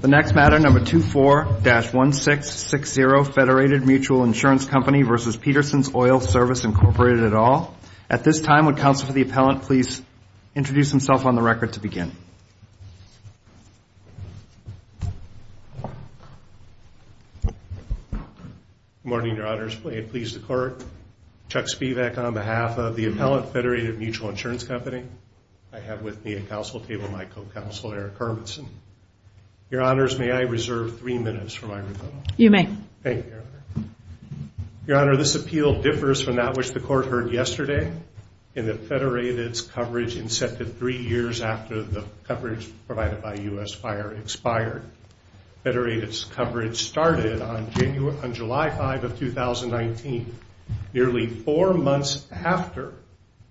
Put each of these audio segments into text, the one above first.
The next matter, number 24-1660, Federated Mutual Insurance Company v. Peterson's Oil Service, Incorporated et al. At this time, would counsel for the appellant please introduce himself on the record to begin. Good morning, Your Honors. Please declare Chuck Spivak on behalf of the appellant, Federated Mutual Insurance Company. I have with me at counsel table my co-counsel, Eric Hermanson. Your Honors, may I reserve three minutes for my rebuttal? You may. Thank you, Your Honor. Your Honor, this appeal differs from that which the Court heard yesterday, in that Federated's coverage incepted three years after the coverage provided by U.S. Fire expired. Federated's coverage started on July 5 of 2019, nearly four months after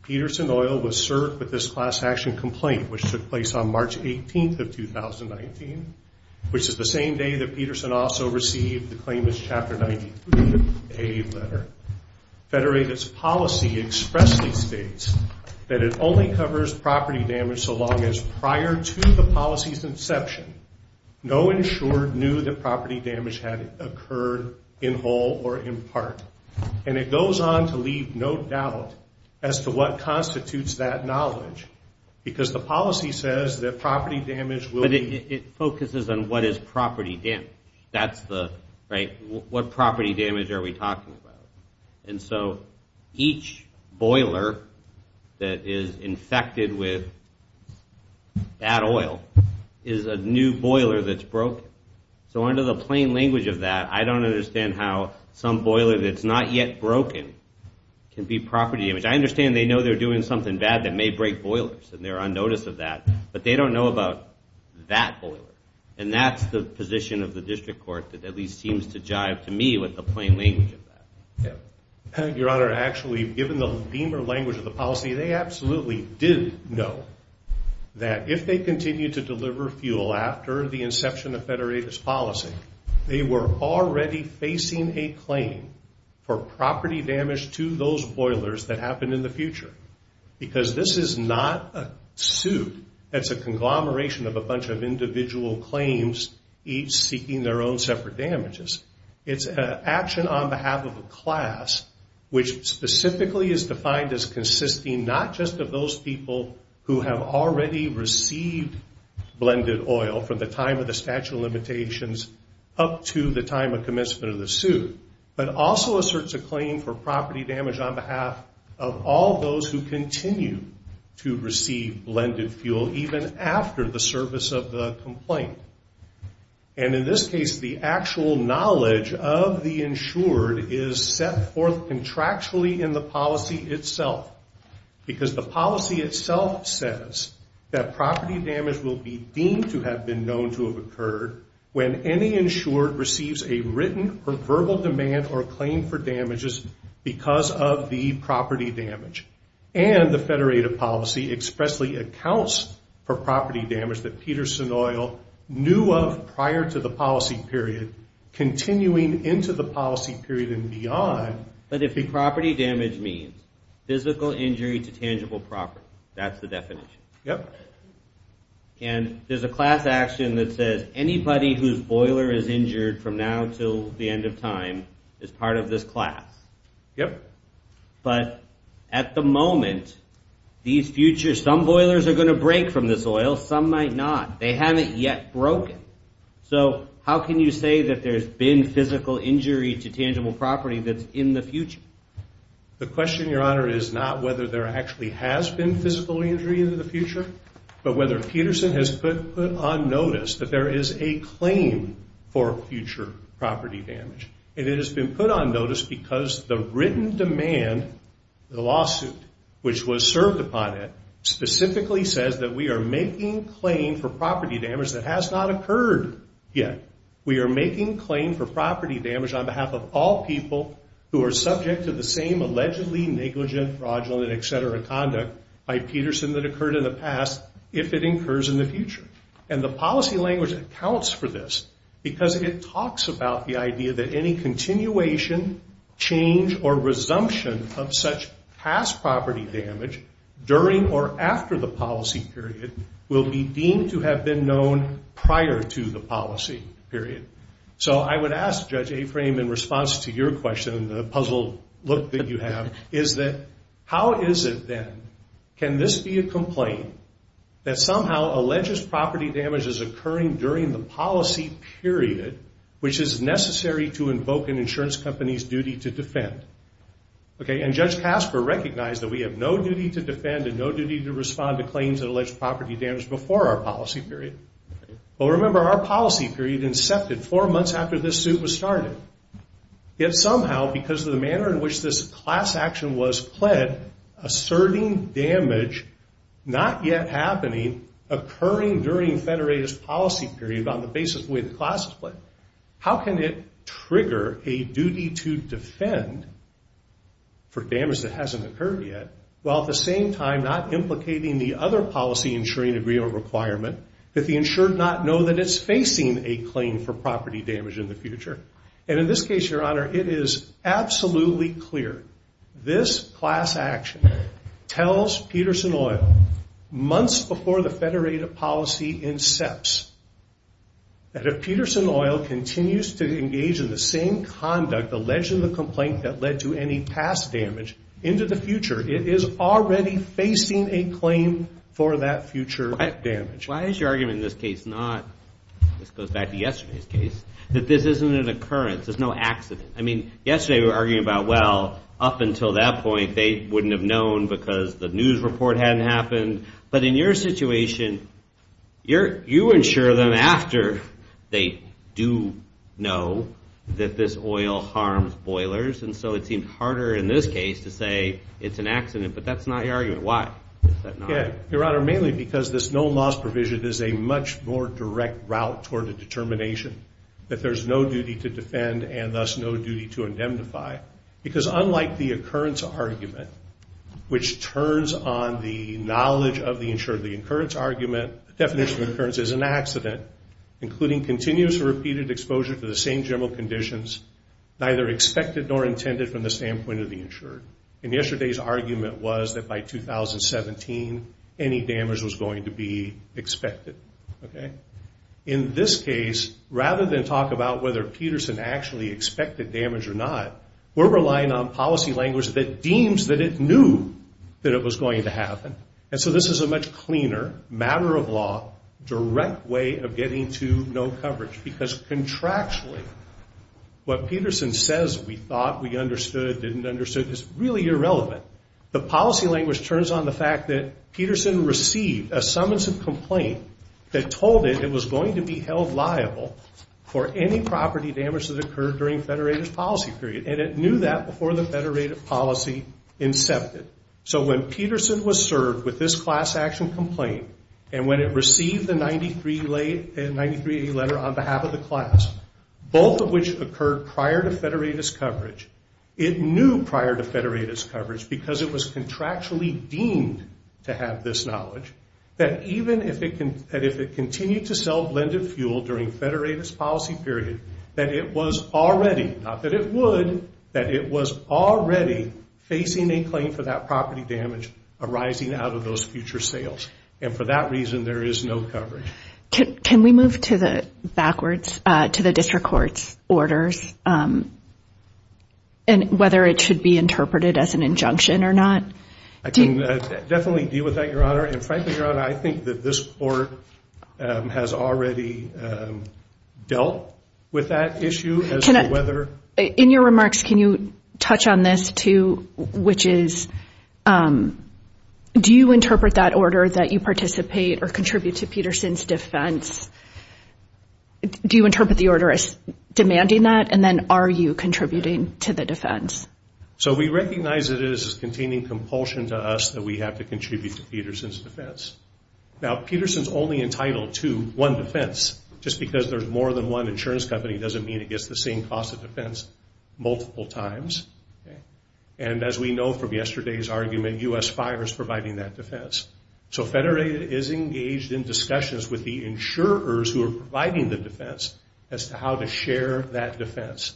Peterson Oil was served with this class action complaint, which took place on March 18 of 2019, which is the same day that Peterson also received the claimant's Chapter 93A letter. Federated's policy expressly states that it only covers property damage so long as, prior to the policy's inception, no insurer knew that property damage had occurred in whole or in part. And it goes on to leave no doubt as to what constitutes that knowledge, because the policy says that property damage will be- But it focuses on what is property damage. That's the, right, what property damage are we talking about? And so each boiler that is infected with that oil is a new boiler that's broken. So under the plain language of that, I don't understand how some boiler that's not yet broken can be property damage. I understand they know they're doing something bad that may break boilers and they're on notice of that, but they don't know about that boiler. And that's the position of the District Court that at least seems to jive to me with the plain language of that. Your Honor, actually, given the femur language of the policy, they absolutely did know that if they continue to deliver fuel after the inception of Federated's policy, they were already facing a claim for property damage to those boilers that happen in the future. Because this is not a suit that's a conglomeration of a bunch of individual claims, each seeking their own separate damages. It's an action on behalf of a class which specifically is defined as consisting not just of those people who have already received blended oil from the time of the statute of limitations up to the time of commencement of the suit, but also asserts a claim for property damage on behalf of all those who continue to receive blended fuel, even after the service of the complaint. And in this case, the actual knowledge of the insured is set forth contractually in the policy itself. Because the policy itself says that property damage will be deemed to have been known to have occurred when any insured receives a written or verbal demand or claim for damages because of the property damage. And the Federated policy expressly accounts for property damage that Peterson Oil knew of prior to the policy period, continuing into the policy period and beyond. But if the property damage means physical injury to tangible property, that's the definition. Yep. And there's a class action that says anybody whose boiler is injured from now until the end of time is part of this class. Yep. But at the moment, these futures, some boilers are going to break from this oil, some might not. They haven't yet broken. So how can you say that there's been physical injury to tangible property that's in the future? The question, Your Honor, is not whether there actually has been physical injury in the future, but whether Peterson has put on notice that there is a claim for future property damage. And it has been put on notice because the written demand, the lawsuit which was served upon it, specifically says that we are making claim for property damage that has not occurred yet. We are making claim for property damage on behalf of all people who are subject to the same allegedly negligent, fraudulent, et cetera, conduct by Peterson that occurred in the past if it incurs in the future. And the policy language accounts for this because it talks about the idea that any continuation, change, or resumption of such past property damage during or after the policy period will be deemed to have been known prior to the policy period. So I would ask, Judge Aframe, in response to your question, the puzzled look that you have, is that how is it then, can this be a complaint that somehow alleges property damage is occurring during the policy period, which is necessary to invoke an insurance company's duty to defend? Okay, and Judge Casper recognized that we have no duty to defend and no duty to respond to claims that allege property damage before our policy period. But remember, our policy period incepted four months after this suit was started. Yet somehow, because of the manner in which this class action was pled, asserting damage not yet happening occurring during federated policy period on the basis of the way the class is pled, how can it trigger a duty to defend for damage that hasn't occurred yet, while at the same time not implicating the other policy insuring agreement requirement that the insured not know that it's facing a claim for property damage in the future? And in this case, Your Honor, it is absolutely clear. This class action tells Peterson Oil, months before the federated policy incepts, that if Peterson Oil continues to engage in the same conduct, alleging the complaint that led to any past damage into the future, it is already facing a claim for that future damage. Why is your argument in this case not, this goes back to yesterday's case, that this isn't an occurrence, there's no accident? I mean, yesterday we were arguing about, well, up until that point, they wouldn't have known because the news report hadn't happened. But in your situation, you insure them after they do know that this oil harms boilers, and so it seemed harder in this case to say it's an accident. But that's not your argument. Why is that not? Your Honor, mainly because this no loss provision is a much more direct route toward a determination that there's no duty to defend and thus no duty to indemnify. Because unlike the occurrence argument, which turns on the knowledge of the insured, the occurrence argument, the definition of occurrence is an accident, including continuous or repeated exposure to the same general conditions, neither expected nor intended from the standpoint of the insured. And yesterday's argument was that by 2017, any damage was going to be expected. In this case, rather than talk about whether Peterson actually expected damage or not, we're relying on policy language that deems that it knew that it was going to happen. And so this is a much cleaner, matter-of-law, direct way of getting to no coverage. Because contractually, what Peterson says, we thought, we understood, didn't understand, is really irrelevant. The policy language turns on the fact that Peterson received a summons of complaint that told it it was going to be held liable for any property damage that occurred during Federated's policy period. And it knew that before the Federated policy incepted. So when Peterson was served with this class action complaint, and when it received the 93A letter on behalf of the class, both of which occurred prior to Federated's coverage, it knew prior to Federated's coverage, because it was contractually deemed to have this knowledge, that even if it continued to sell blended fuel during Federated's policy period, that it was already, not that it would, that it was already facing a claim for that property damage arising out of those future sales. And for that reason, there is no coverage. Can we move backwards to the district court's orders, and whether it should be interpreted as an injunction or not? I can definitely deal with that, Your Honor. And frankly, Your Honor, I think that this court has already dealt with that issue as to whether In your remarks, can you touch on this too, which is, do you interpret that order that you participate or contribute to Peterson's defense, do you interpret the order as demanding that, and then are you contributing to the defense? So we recognize it as containing compulsion to us that we have to contribute to Peterson's defense. Now, Peterson's only entitled to one defense. Just because there's more than one insurance company doesn't mean it gets the same cost of defense multiple times. And as we know from yesterday's argument, U.S. Fire is providing that defense. So Federated is engaged in discussions with the insurers who are providing the defense as to how to share that defense.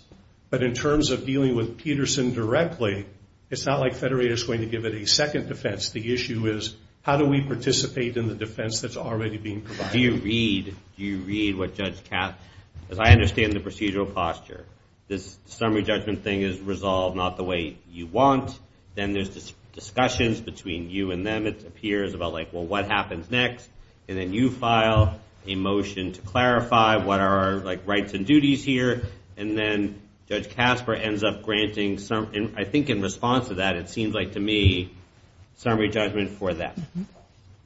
But in terms of dealing with Peterson directly, it's not like Federated is going to give it a second defense. The issue is, how do we participate in the defense that's already being provided? Do you read what Judge Kapp, because I understand the procedural posture. This summary judgment thing is resolved not the way you want. Then there's discussions between you and them, it appears, about, like, well, what happens next? And then you file a motion to clarify what are our, like, rights and duties here. And then Judge Kasper ends up granting, I think in response to that, it seems like to me, summary judgment for that.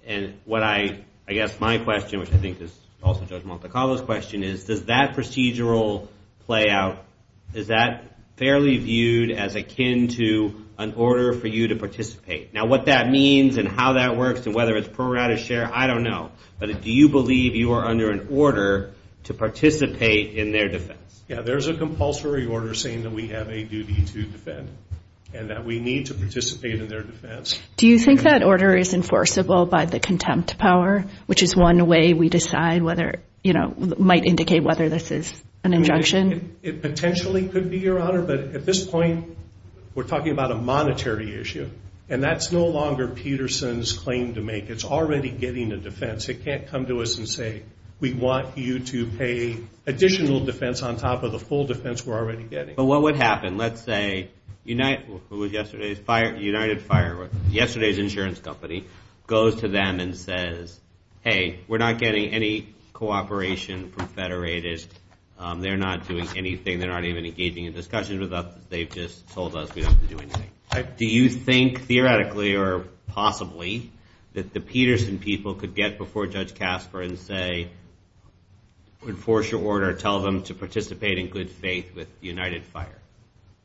And what I, I guess my question, which I think is also Judge Montecarlo's question, is does that procedural play out, is that fairly viewed as akin to an order for you to participate? Now, what that means and how that works and whether it's pro rata share, I don't know. But do you believe you are under an order to participate in their defense? Yeah, there's a compulsory order saying that we have a duty to defend and that we need to participate in their defense. Do you think that order is enforceable by the contempt power, which is one way we decide whether, you know, might indicate whether this is an injunction? It potentially could be, Your Honor. But at this point, we're talking about a monetary issue. And that's no longer Peterson's claim to make. It's already getting a defense. It can't come to us and say we want you to pay additional defense on top of the full defense we're already getting. But what would happen? Let's say United Fireworks, yesterday's insurance company, goes to them and says, hey, we're not getting any cooperation from Federated. They're not doing anything. They're not even engaging in discussions with us. They've just told us we don't have to do anything. Do you think theoretically or possibly that the Peterson people could get before Judge Casper and say, enforce your order, tell them to participate in good faith with United Fire?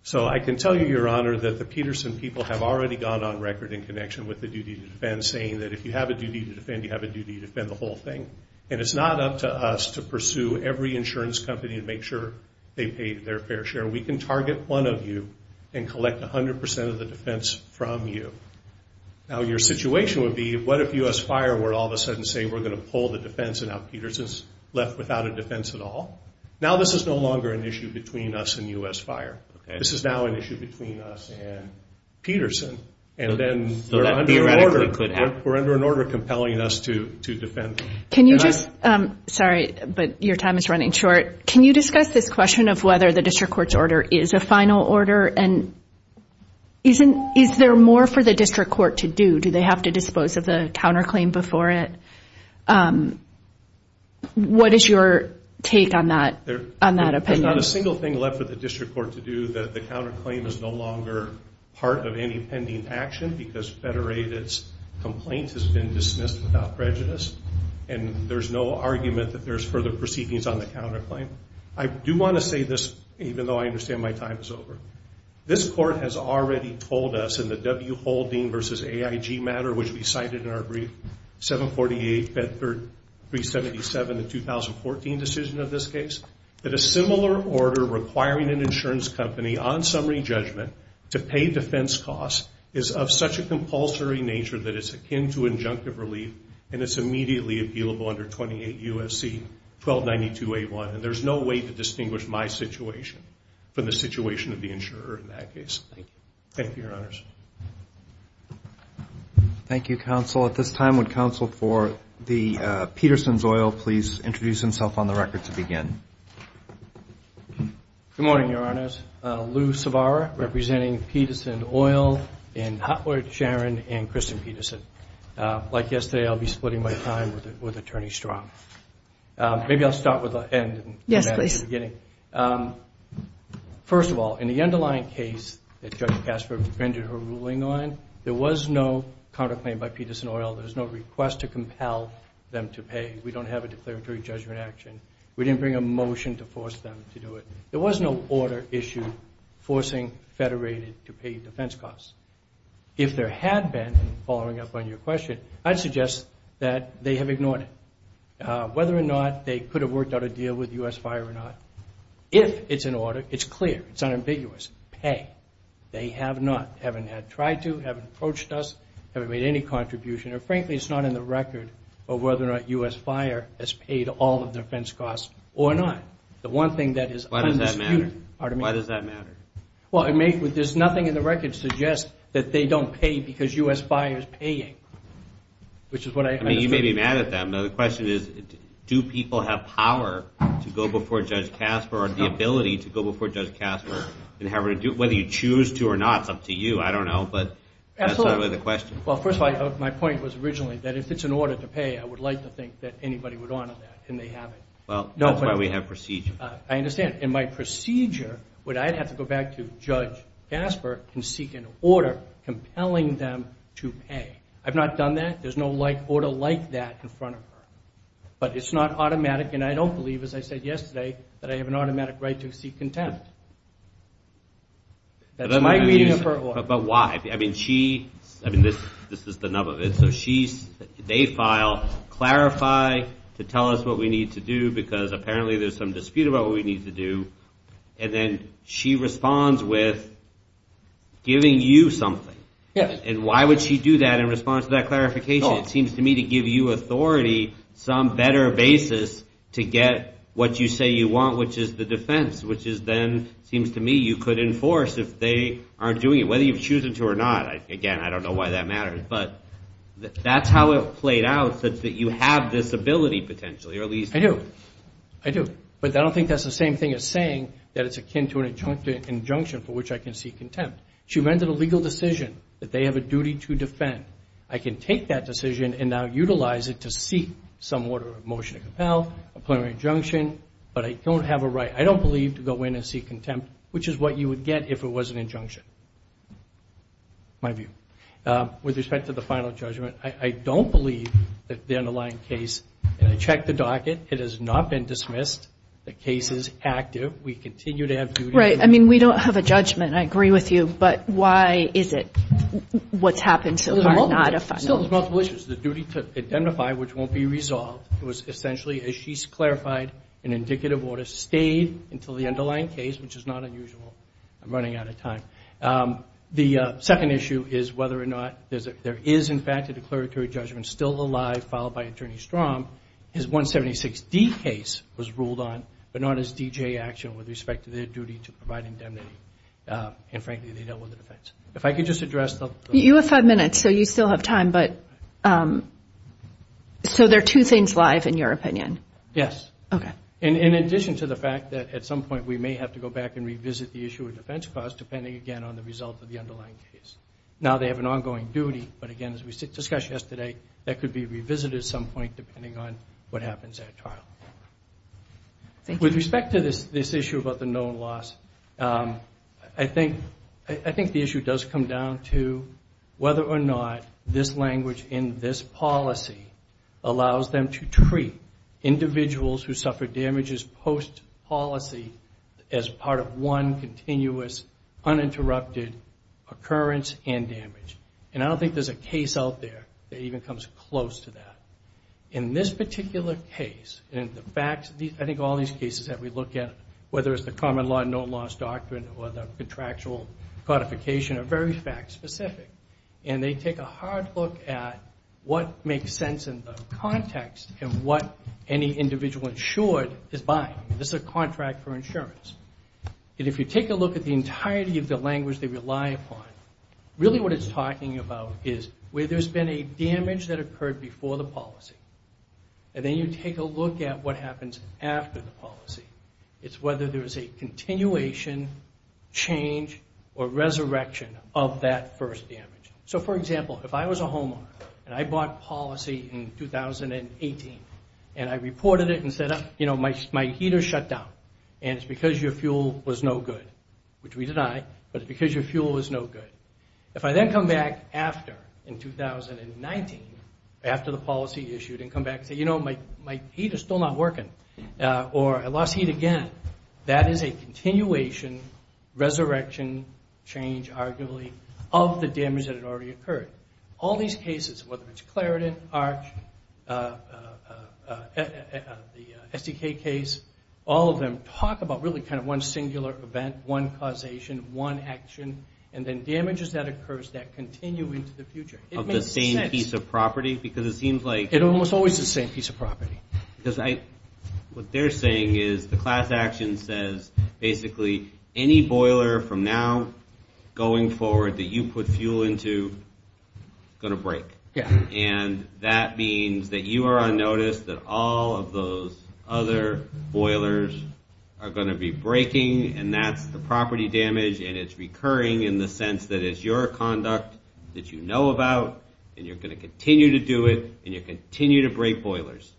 So I can tell you, Your Honor, that the Peterson people have already gone on record in connection with the duty to defend, saying that if you have a duty to defend, you have a duty to defend the whole thing. And it's not up to us to pursue every insurance company and make sure they pay their fair share. We can target one of you and collect 100% of the defense from you. Now, your situation would be, what if U.S. Fire were to all of a sudden say we're going to pull the defense and now Peterson's left without a defense at all? Now this is no longer an issue between us and U.S. Fire. This is now an issue between us and Peterson. And then we're under an order compelling us to defend. Can you just – sorry, but your time is running short. Can you discuss this question of whether the district court's order is a final order? And is there more for the district court to do? Do they have to dispose of the counterclaim before it? What is your take on that opinion? There's not a single thing left for the district court to do. The counterclaim is no longer part of any pending action because Federated's complaint has been dismissed without prejudice. And there's no argument that there's further proceedings on the counterclaim. I do want to say this, even though I understand my time is over. This court has already told us in the W. Haldane v. AIG matter, which we cited in our brief, 748-377, the 2014 decision of this case, that a similar order requiring an insurance company, on summary judgment, to pay defense costs is of such a compulsory nature that it's akin to injunctive relief and it's immediately appealable under 28 U.S.C. 1292-A1. And there's no way to distinguish my situation from the situation of the insurer in that case. Thank you. Thank you, Your Honors. Thank you, Counsel. At this time, would Counsel for Peterson's Oil please introduce himself on the record to begin? Good morning, Your Honors. Lou Savara, representing Peterson Oil in Hotwood, Sharon, and Kristen Peterson. Like yesterday, I'll be splitting my time with Attorney Strong. Maybe I'll start with the end. Yes, please. First of all, in the underlying case that Judge Casper rendered her ruling on, there was no counterclaim by Peterson Oil. There was no request to compel them to pay. We don't have a declaratory judgment action. We didn't bring a motion to force them to do it. There was no order issued forcing Federated to pay defense costs. If there had been, following up on your question, I'd suggest that they have ignored it, whether or not they could have worked out a deal with U.S. Fire or not. If it's an order, it's clear, it's unambiguous, pay. They have not, haven't tried to, haven't approached us, haven't made any contribution, or frankly it's not in the record of whether or not U.S. Fire has paid all of the defense costs or not. The one thing that is undisputed. Why does that matter? Well, I mean, there's nothing in the record that suggests that they don't pay because U.S. Fire is paying, which is what I understand. I mean, you may be mad at them, but the question is, do people have power to go before Judge Casper or the ability to go before Judge Casper? Whether you choose to or not, it's up to you. I don't know, but that's the question. Well, first of all, my point was originally that if it's an order to pay, I would like to think that anybody would honor that, and they haven't. Well, that's why we have procedure. I understand. In my procedure, would I have to go back to Judge Casper and seek an order compelling them to pay? I've not done that. There's no order like that in front of her. But it's not automatic, and I don't believe, as I said yesterday, that I have an automatic right to seek contempt. That's my reading of her order. But why? I mean, she, I mean, this is the nub of it. They file clarify to tell us what we need to do, because apparently there's some dispute about what we need to do, and then she responds with giving you something. And why would she do that in response to that clarification? It seems to me to give you authority, some better basis to get what you say you want, which is the defense, which then seems to me you could enforce if they aren't doing it, whether you've chosen to or not. Again, I don't know why that matters. But that's how it played out, that you have this ability, potentially, or at least. I do. I do. But I don't think that's the same thing as saying that it's akin to an injunction for which I can seek contempt. She rendered a legal decision that they have a duty to defend. I can take that decision and now utilize it to seek some order of motion to compel, a preliminary injunction, but I don't have a right, I don't believe, to go in and seek contempt, which is what you would get if it was an injunction, my view. With respect to the final judgment, I don't believe that the underlying case, and I checked the docket, it has not been dismissed. The case is active. We continue to have duties. Right. I mean, we don't have a judgment. I agree with you. But why is it what's happened so far not a final judgment? There's multiple issues. The duty to identify, which won't be resolved, was essentially, as she's clarified, an indicative order stayed until the underlying case, which is not unusual. I'm running out of time. The second issue is whether or not there is, in fact, a declaratory judgment still alive, followed by Attorney Strong. His 176D case was ruled on, but not his D.J. action with respect to their duty to provide indemnity. And, frankly, they dealt with it. If I could just address the – You have five minutes, so you still have time. So there are two things live, in your opinion? Yes. Okay. In addition to the fact that, at some point, we may have to go back and revisit the issue of defense clause, depending, again, on the result of the underlying case. Now they have an ongoing duty, but, again, as we discussed yesterday, that could be revisited at some point, depending on what happens at trial. With respect to this issue about the known loss, I think the issue does come down to whether or not this language in this policy allows them to treat individuals who suffer damages post-policy as part of one continuous, uninterrupted occurrence and damage. And I don't think there's a case out there that even comes close to that. In this particular case, in the facts – I think all these cases that we look at, whether it's the common law, known loss doctrine, or the contractual codification, are very fact-specific. And they take a hard look at what makes sense in the context and what any individual insured is buying. This is a contract for insurance. And if you take a look at the entirety of the language they rely upon, really what it's talking about is where there's been a damage that occurred before the policy. And then you take a look at what happens after the policy. It's whether there's a continuation, change, or resurrection of that first damage. So, for example, if I was a homeowner and I bought policy in 2018 and I reported it and said, you know, my heater shut down, and it's because your fuel was no good, which we deny, but it's because your fuel was no good. If I then come back after, in 2019, after the policy issued, and come back and say, you know, my heater's still not working, or I lost heat again, that is a continuation, resurrection, change, arguably, of the damage that had already occurred. All these cases, whether it's Claritin, ARCH, the SDK case, all of them talk about really kind of one singular event, one causation, one action. And then damages that occurs that continue into the future. It makes sense. Of the same piece of property? Because it seems like... It's almost always the same piece of property. What they're saying is the class action says, basically, any boiler from now going forward that you put fuel into is going to break. Yeah. And that means that you are on notice that all of those other boilers are going to be breaking, and that's the property damage, and it's recurring in the sense that it's your conduct that you know about, and you're going to continue to do it, and you continue to break boilers.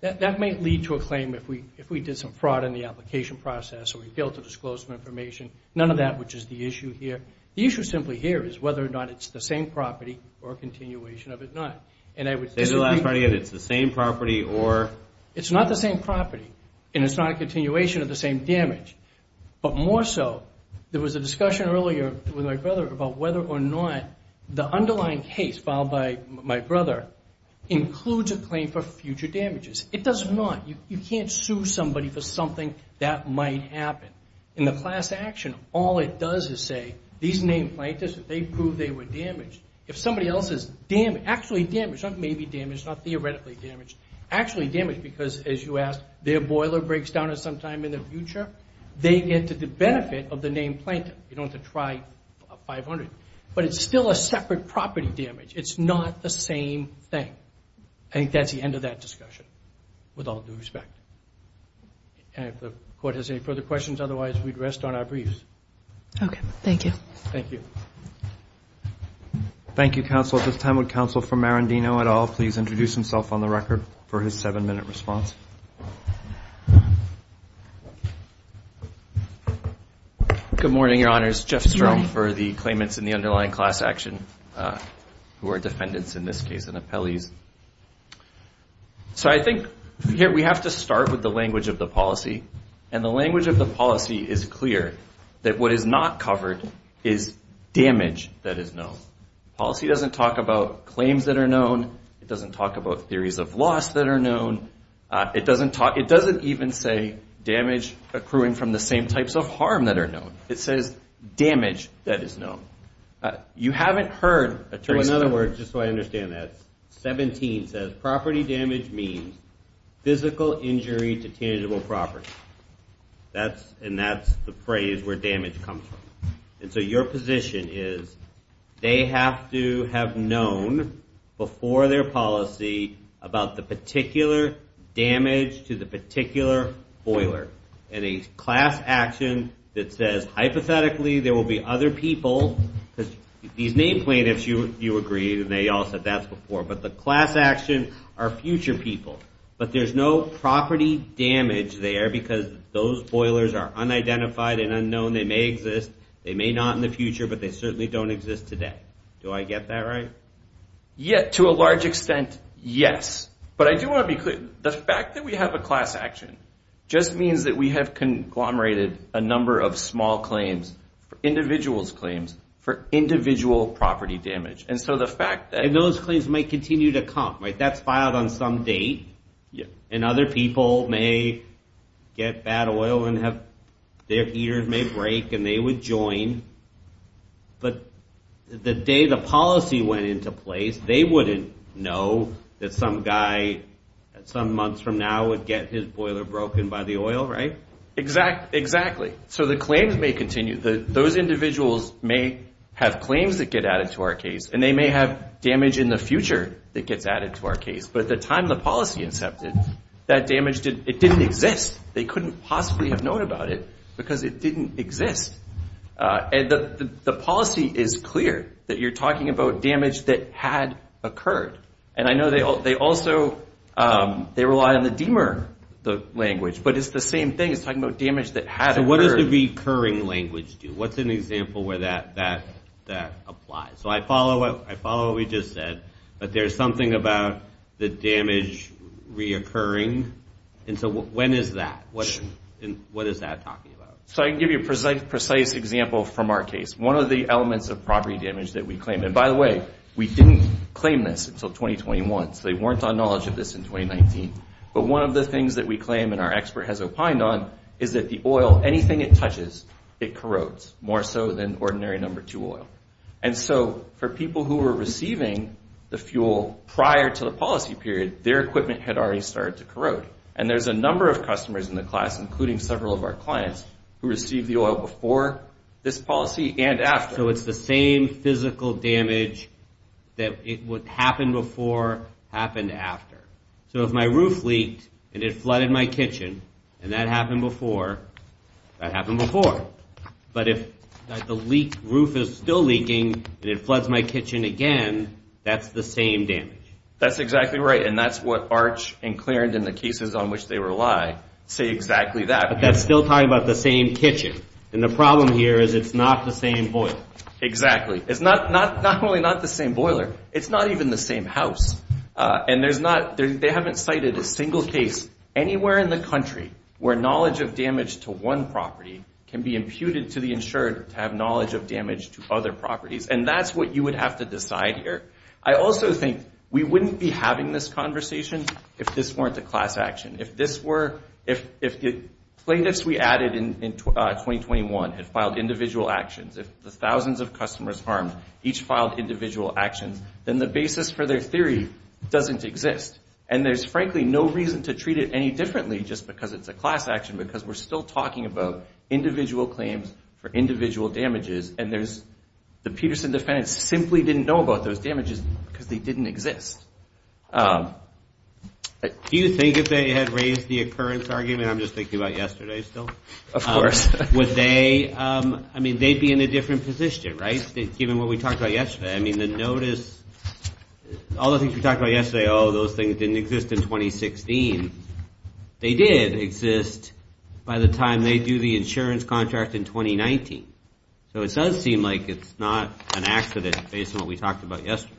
That might lead to a claim if we did some fraud in the application process or we failed to disclose some information. None of that, which is the issue here. The issue simply here is whether or not it's the same property or a continuation of it not. Say that last part again. It's the same property or... It's not the same property, and it's not a continuation of the same damage. But more so, there was a discussion earlier with my brother about whether or not the underlying case filed by my brother includes a claim for future damages. It does not. You can't sue somebody for something that might happen. In the class action, all it does is say these named plaintiffs, they proved they were damaged. If somebody else is damaged, actually damaged, not maybe damaged, not theoretically damaged, actually damaged because, as you asked, their boiler breaks down at some time in the future, they get the benefit of the named plaintiff. You don't have to try 500. But it's still a separate property damage. It's not the same thing. I think that's the end of that discussion, with all due respect. And if the Court has any further questions, otherwise we'd rest on our briefs. Okay. Thank you. Thank you. Thank you, Counsel. At this time, would Counsel for Marandino et al. please introduce himself on the record for his seven-minute response? Good morning, Your Honors. I'm Chris Jeffstrom for the claimants in the underlying class action, who are defendants in this case and appellees. So I think here we have to start with the language of the policy, and the language of the policy is clear, that what is not covered is damage that is known. Policy doesn't talk about claims that are known. It doesn't talk about theories of loss that are known. It doesn't even say damage accruing from the same types of harm that are known. It says damage that is known. You haven't heard a trace of that. So in other words, just so I understand that, 17 says property damage means physical injury to tangible property. And that's the phrase where damage comes from. And so your position is they have to have known before their policy about the particular damage to the particular boiler. And a class action that says hypothetically there will be other people, because these name plaintiffs, you agreed, and they all said that before, but the class action are future people. But there's no property damage there because those boilers are unidentified and unknown. They may exist. They may not in the future, but they certainly don't exist today. Do I get that right? Yeah, to a large extent, yes. But I do want to be clear. The fact that we have a class action just means that we have conglomerated a number of small claims, individuals' claims, for individual property damage. And so the fact that those claims might continue to come. That's filed on some date. And other people may get bad oil and their ears may break and they would join. But the day the policy went into place, they wouldn't know that some guy some months from now would get his boiler broken by the oil, right? Exactly. So the claims may continue. Those individuals may have claims that get added to our case, and they may have damage in the future that gets added to our case. But at the time the policy incepted, that damage didn't exist. They couldn't possibly have known about it because it didn't exist. And the policy is clear that you're talking about damage that had occurred. And I know they also rely on the DMR language, but it's the same thing. It's talking about damage that had occurred. So what does the recurring language do? What's an example where that applies? So I follow what we just said, but there's something about the damage reoccurring. And so when is that? What is that talking about? So I can give you a precise example from our case. One of the elements of property damage that we claim, and by the way, we didn't claim this until 2021, so they weren't on knowledge of this in 2019. But one of the things that we claim and our expert has opined on is that the oil, anything it touches, it corrodes, more so than ordinary number two oil. And so for people who were receiving the fuel prior to the policy period, their equipment had already started to corrode. And there's a number of customers in the class, including several of our clients, who received the oil before this policy and after. So it's the same physical damage that happened before happened after. So if my roof leaked and it flooded my kitchen and that happened before, that happened before. But if the roof is still leaking and it floods my kitchen again, that's the same damage. That's exactly right. And that's what Arch and Clarendon, the cases on which they rely, say exactly that. But that's still talking about the same kitchen. And the problem here is it's not the same boiler. Exactly. It's not only not the same boiler, it's not even the same house. And they haven't cited a single case anywhere in the country where knowledge of damage to one property can be imputed to the insured to have knowledge of damage to other properties. And that's what you would have to decide here. I also think we wouldn't be having this conversation if this weren't a class action. If the plaintiffs we added in 2021 had filed individual actions, if the thousands of customers harmed each filed individual actions, then the basis for their theory doesn't exist. And there's frankly no reason to treat it any differently just because it's a class action because we're still talking about individual claims for individual damages. And the Peterson defendants simply didn't know about those damages because they didn't exist. Do you think if they had raised the occurrence argument, I'm just thinking about yesterday still. Of course. Would they, I mean, they'd be in a different position, right, given what we talked about yesterday. I mean, the notice, all the things we talked about yesterday, oh, those things didn't exist in 2016. They did exist by the time they do the insurance contract in 2019. So it does seem like it's not an accident based on what we talked about yesterday.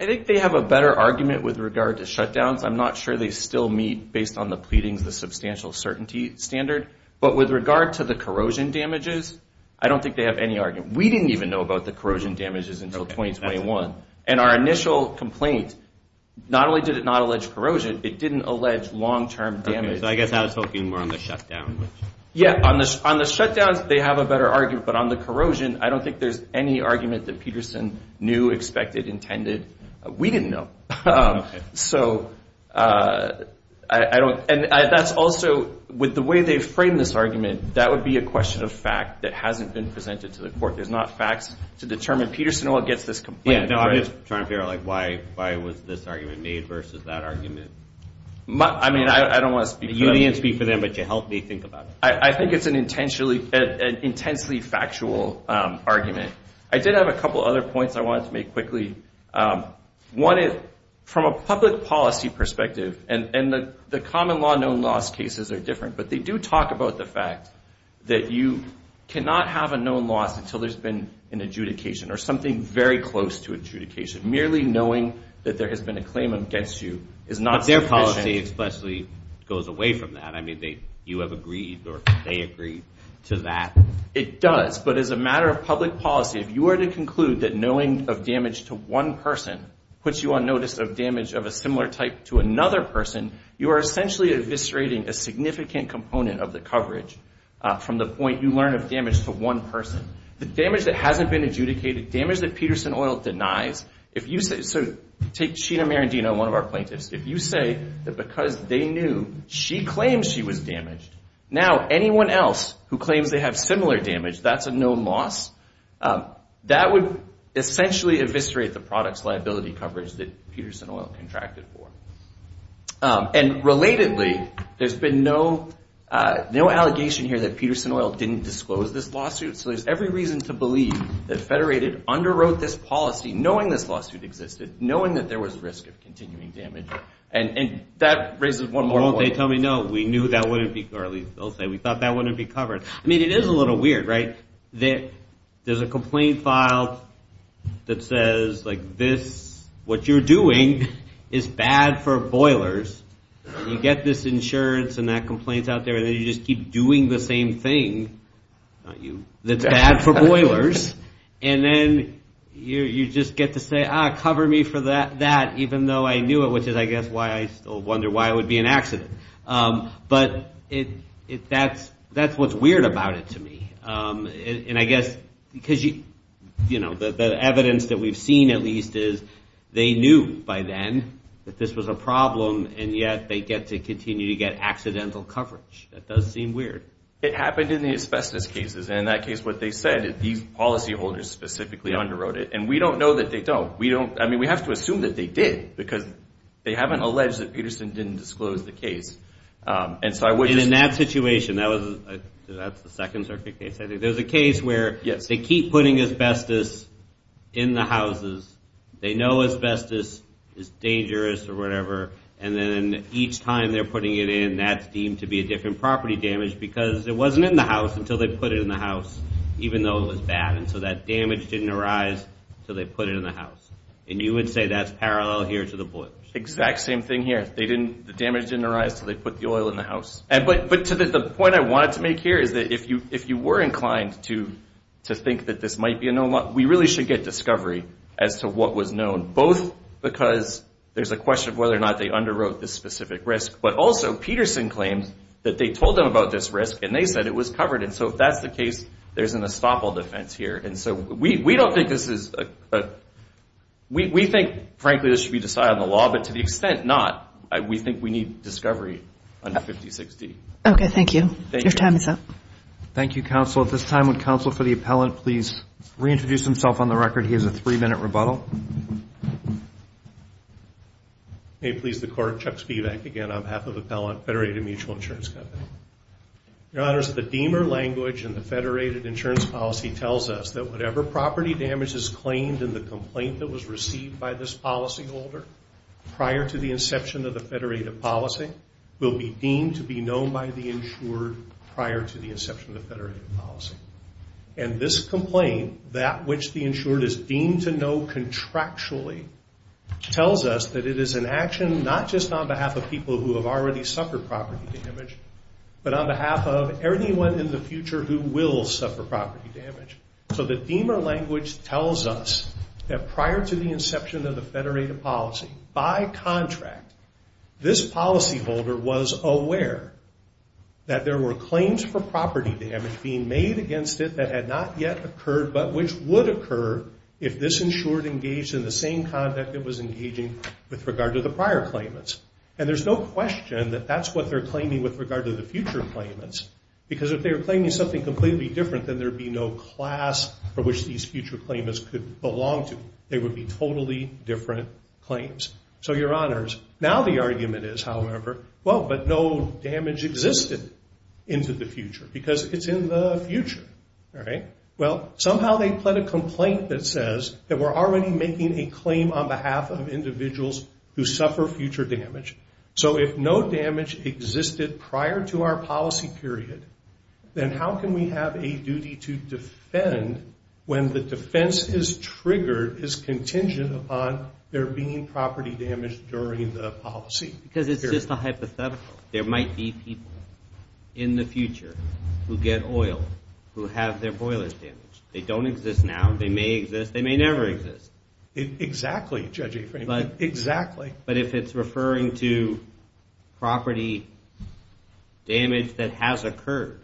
I think they have a better argument with regard to shutdowns. I'm not sure they still meet, based on the pleadings, the substantial certainty standard. But with regard to the corrosion damages, I don't think they have any argument. We didn't even know about the corrosion damages until 2021. And our initial complaint, not only did it not allege corrosion, it didn't allege long-term damage. So I guess I was talking more on the shutdown. Yeah, on the shutdowns, they have a better argument. But on the corrosion, I don't think there's any argument that Peterson knew, expected, intended. We didn't know. So I don't, and that's also, with the way they've framed this argument, that would be a question of fact that hasn't been presented to the court. There's not facts to determine Peterson or what gets this complaint. Yeah, no, I'm just trying to figure out, like, why was this argument made versus that argument? I mean, I don't want to speak for them. But you helped me think about it. I think it's an intensely factual argument. I did have a couple other points I wanted to make quickly. One is, from a public policy perspective, and the common law known loss cases are different, but they do talk about the fact that you cannot have a known loss until there's been an adjudication or something very close to adjudication. Merely knowing that there has been a claim against you is not sufficient. Public policy explicitly goes away from that. I mean, you have agreed or they agreed to that. It does. But as a matter of public policy, if you were to conclude that knowing of damage to one person puts you on notice of damage of a similar type to another person, you are essentially eviscerating a significant component of the coverage from the point you learn of damage to one person. The damage that hasn't been adjudicated, damage that Peterson Oil denies, if you say, so take Sheena Marendino, one of our plaintiffs. If you say that because they knew she claims she was damaged, now anyone else who claims they have similar damage, that's a known loss, that would essentially eviscerate the product's liability coverage that Peterson Oil contracted for. And relatedly, there's been no allegation here that Peterson Oil didn't disclose this lawsuit, so there's every reason to believe that Federated underwrote this policy knowing this lawsuit existed, knowing that there was risk of continuing damage, and that raises one more point. Well, won't they tell me, no, we knew that wouldn't be, or at least they'll say, we thought that wouldn't be covered. I mean, it is a little weird, right, that there's a complaint filed that says, like, this, what you're doing is bad for boilers, and you get this insurance and that complaint's out there, and then you just keep doing the same thing, not you, that's bad for boilers, and then you just get to say, ah, cover me for that, even though I knew it, which is, I guess, why I still wonder why it would be an accident. But that's what's weird about it to me. And I guess because, you know, the evidence that we've seen at least is they knew by then that this was a problem, and yet they get to continue to get accidental coverage. That does seem weird. It happened in the asbestos cases, and in that case, what they said, these policyholders specifically underwrote it, and we don't know that they don't. I mean, we have to assume that they did because they haven't alleged that Peterson didn't disclose the case. And in that situation, that's the second circuit case. There's a case where they keep putting asbestos in the houses. They know asbestos is dangerous or whatever, and then each time they're putting it in, that's deemed to be a different property damage because it wasn't in the house until they put it in the house, even though it was bad. And so that damage didn't arise until they put it in the house. And you would say that's parallel here to the boilers. Exact same thing here. The damage didn't arise until they put the oil in the house. But the point I wanted to make here is that if you were inclined to think that this might be a known one, we really should get discovery as to what was known, both because there's a question of whether or not they underwrote this specific risk, but also Peterson claims that they told them about this risk and they said it was covered. And so if that's the case, there's an estoppel defense here. And so we don't think this is a – we think, frankly, this should be decided on the law, but to the extent not, we think we need discovery under 56D. Okay, thank you. Your time is up. Thank you, counsel. At this time, would counsel for the appellant please reintroduce himself on the record? He has a three-minute rebuttal. May it please the court, Chuck Spivak again on behalf of the appellant, Federated Mutual Insurance Company. Your honors, the deemer language in the federated insurance policy tells us that whatever property damage is claimed in the complaint that was received by this policyholder prior to the inception of the federated policy will be deemed to be known by the insured prior to the inception of the federated policy. And this complaint, that which the insured is deemed to know contractually, tells us that it is an action not just on behalf of people who have already suffered property damage, but on behalf of anyone in the future who will suffer property damage. So the deemer language tells us that prior to the inception of the federated policy, by contract, this policyholder was aware that there were claims for property damage being made against it that had not yet occurred, but which would occur if this insured engaged in the same conduct it was engaging with regard to the prior claimants. And there's no question that that's what they're claiming with regard to the future claimants, because if they were claiming something completely different, then there would be no class for which these future claimants could belong to. They would be totally different claims. So, Your Honors, now the argument is, however, well, but no damage existed into the future, because it's in the future, right? Well, somehow they pled a complaint that says that we're already making a claim on behalf of individuals who suffer future damage. So if no damage existed prior to our policy period, then how can we have a duty to defend when the defense is triggered, is contingent upon there being property damage during the policy period? Because it's just a hypothetical. There might be people in the future who get oil, who have their boilers damaged. They don't exist now. They may exist. They may never exist. Exactly, Judge Aframe. Exactly. But if it's referring to property damage that has occurred,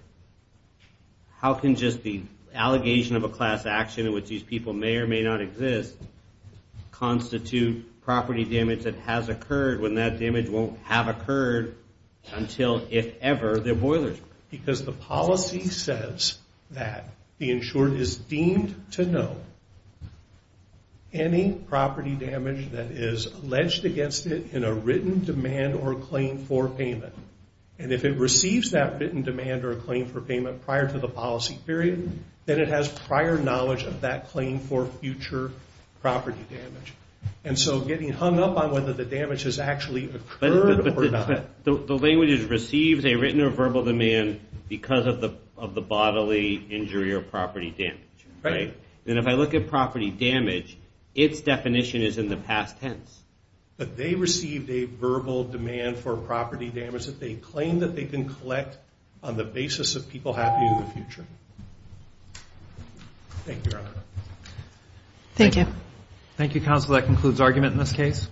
how can just the allegation of a class action in which these people may or may not exist constitute property damage that has occurred, when that damage won't have occurred until, if ever, their boilers were. Because the policy says that the insurer is deemed to know any property damage that is alleged against it in a written demand or claim for payment. And if it receives that written demand or claim for payment prior to the policy period, then it has prior knowledge of that claim for future property damage. And so getting hung up on whether the damage has actually occurred or not. But the language is receives a written or verbal demand because of the bodily injury or property damage, right? Right. And if I look at property damage, its definition is in the past tense. But they received a verbal demand for property damage that they claim that they can collect on the basis of people happy in the future. Thank you, Your Honor. Thank you. Thank you, counsel. That concludes argument in this case.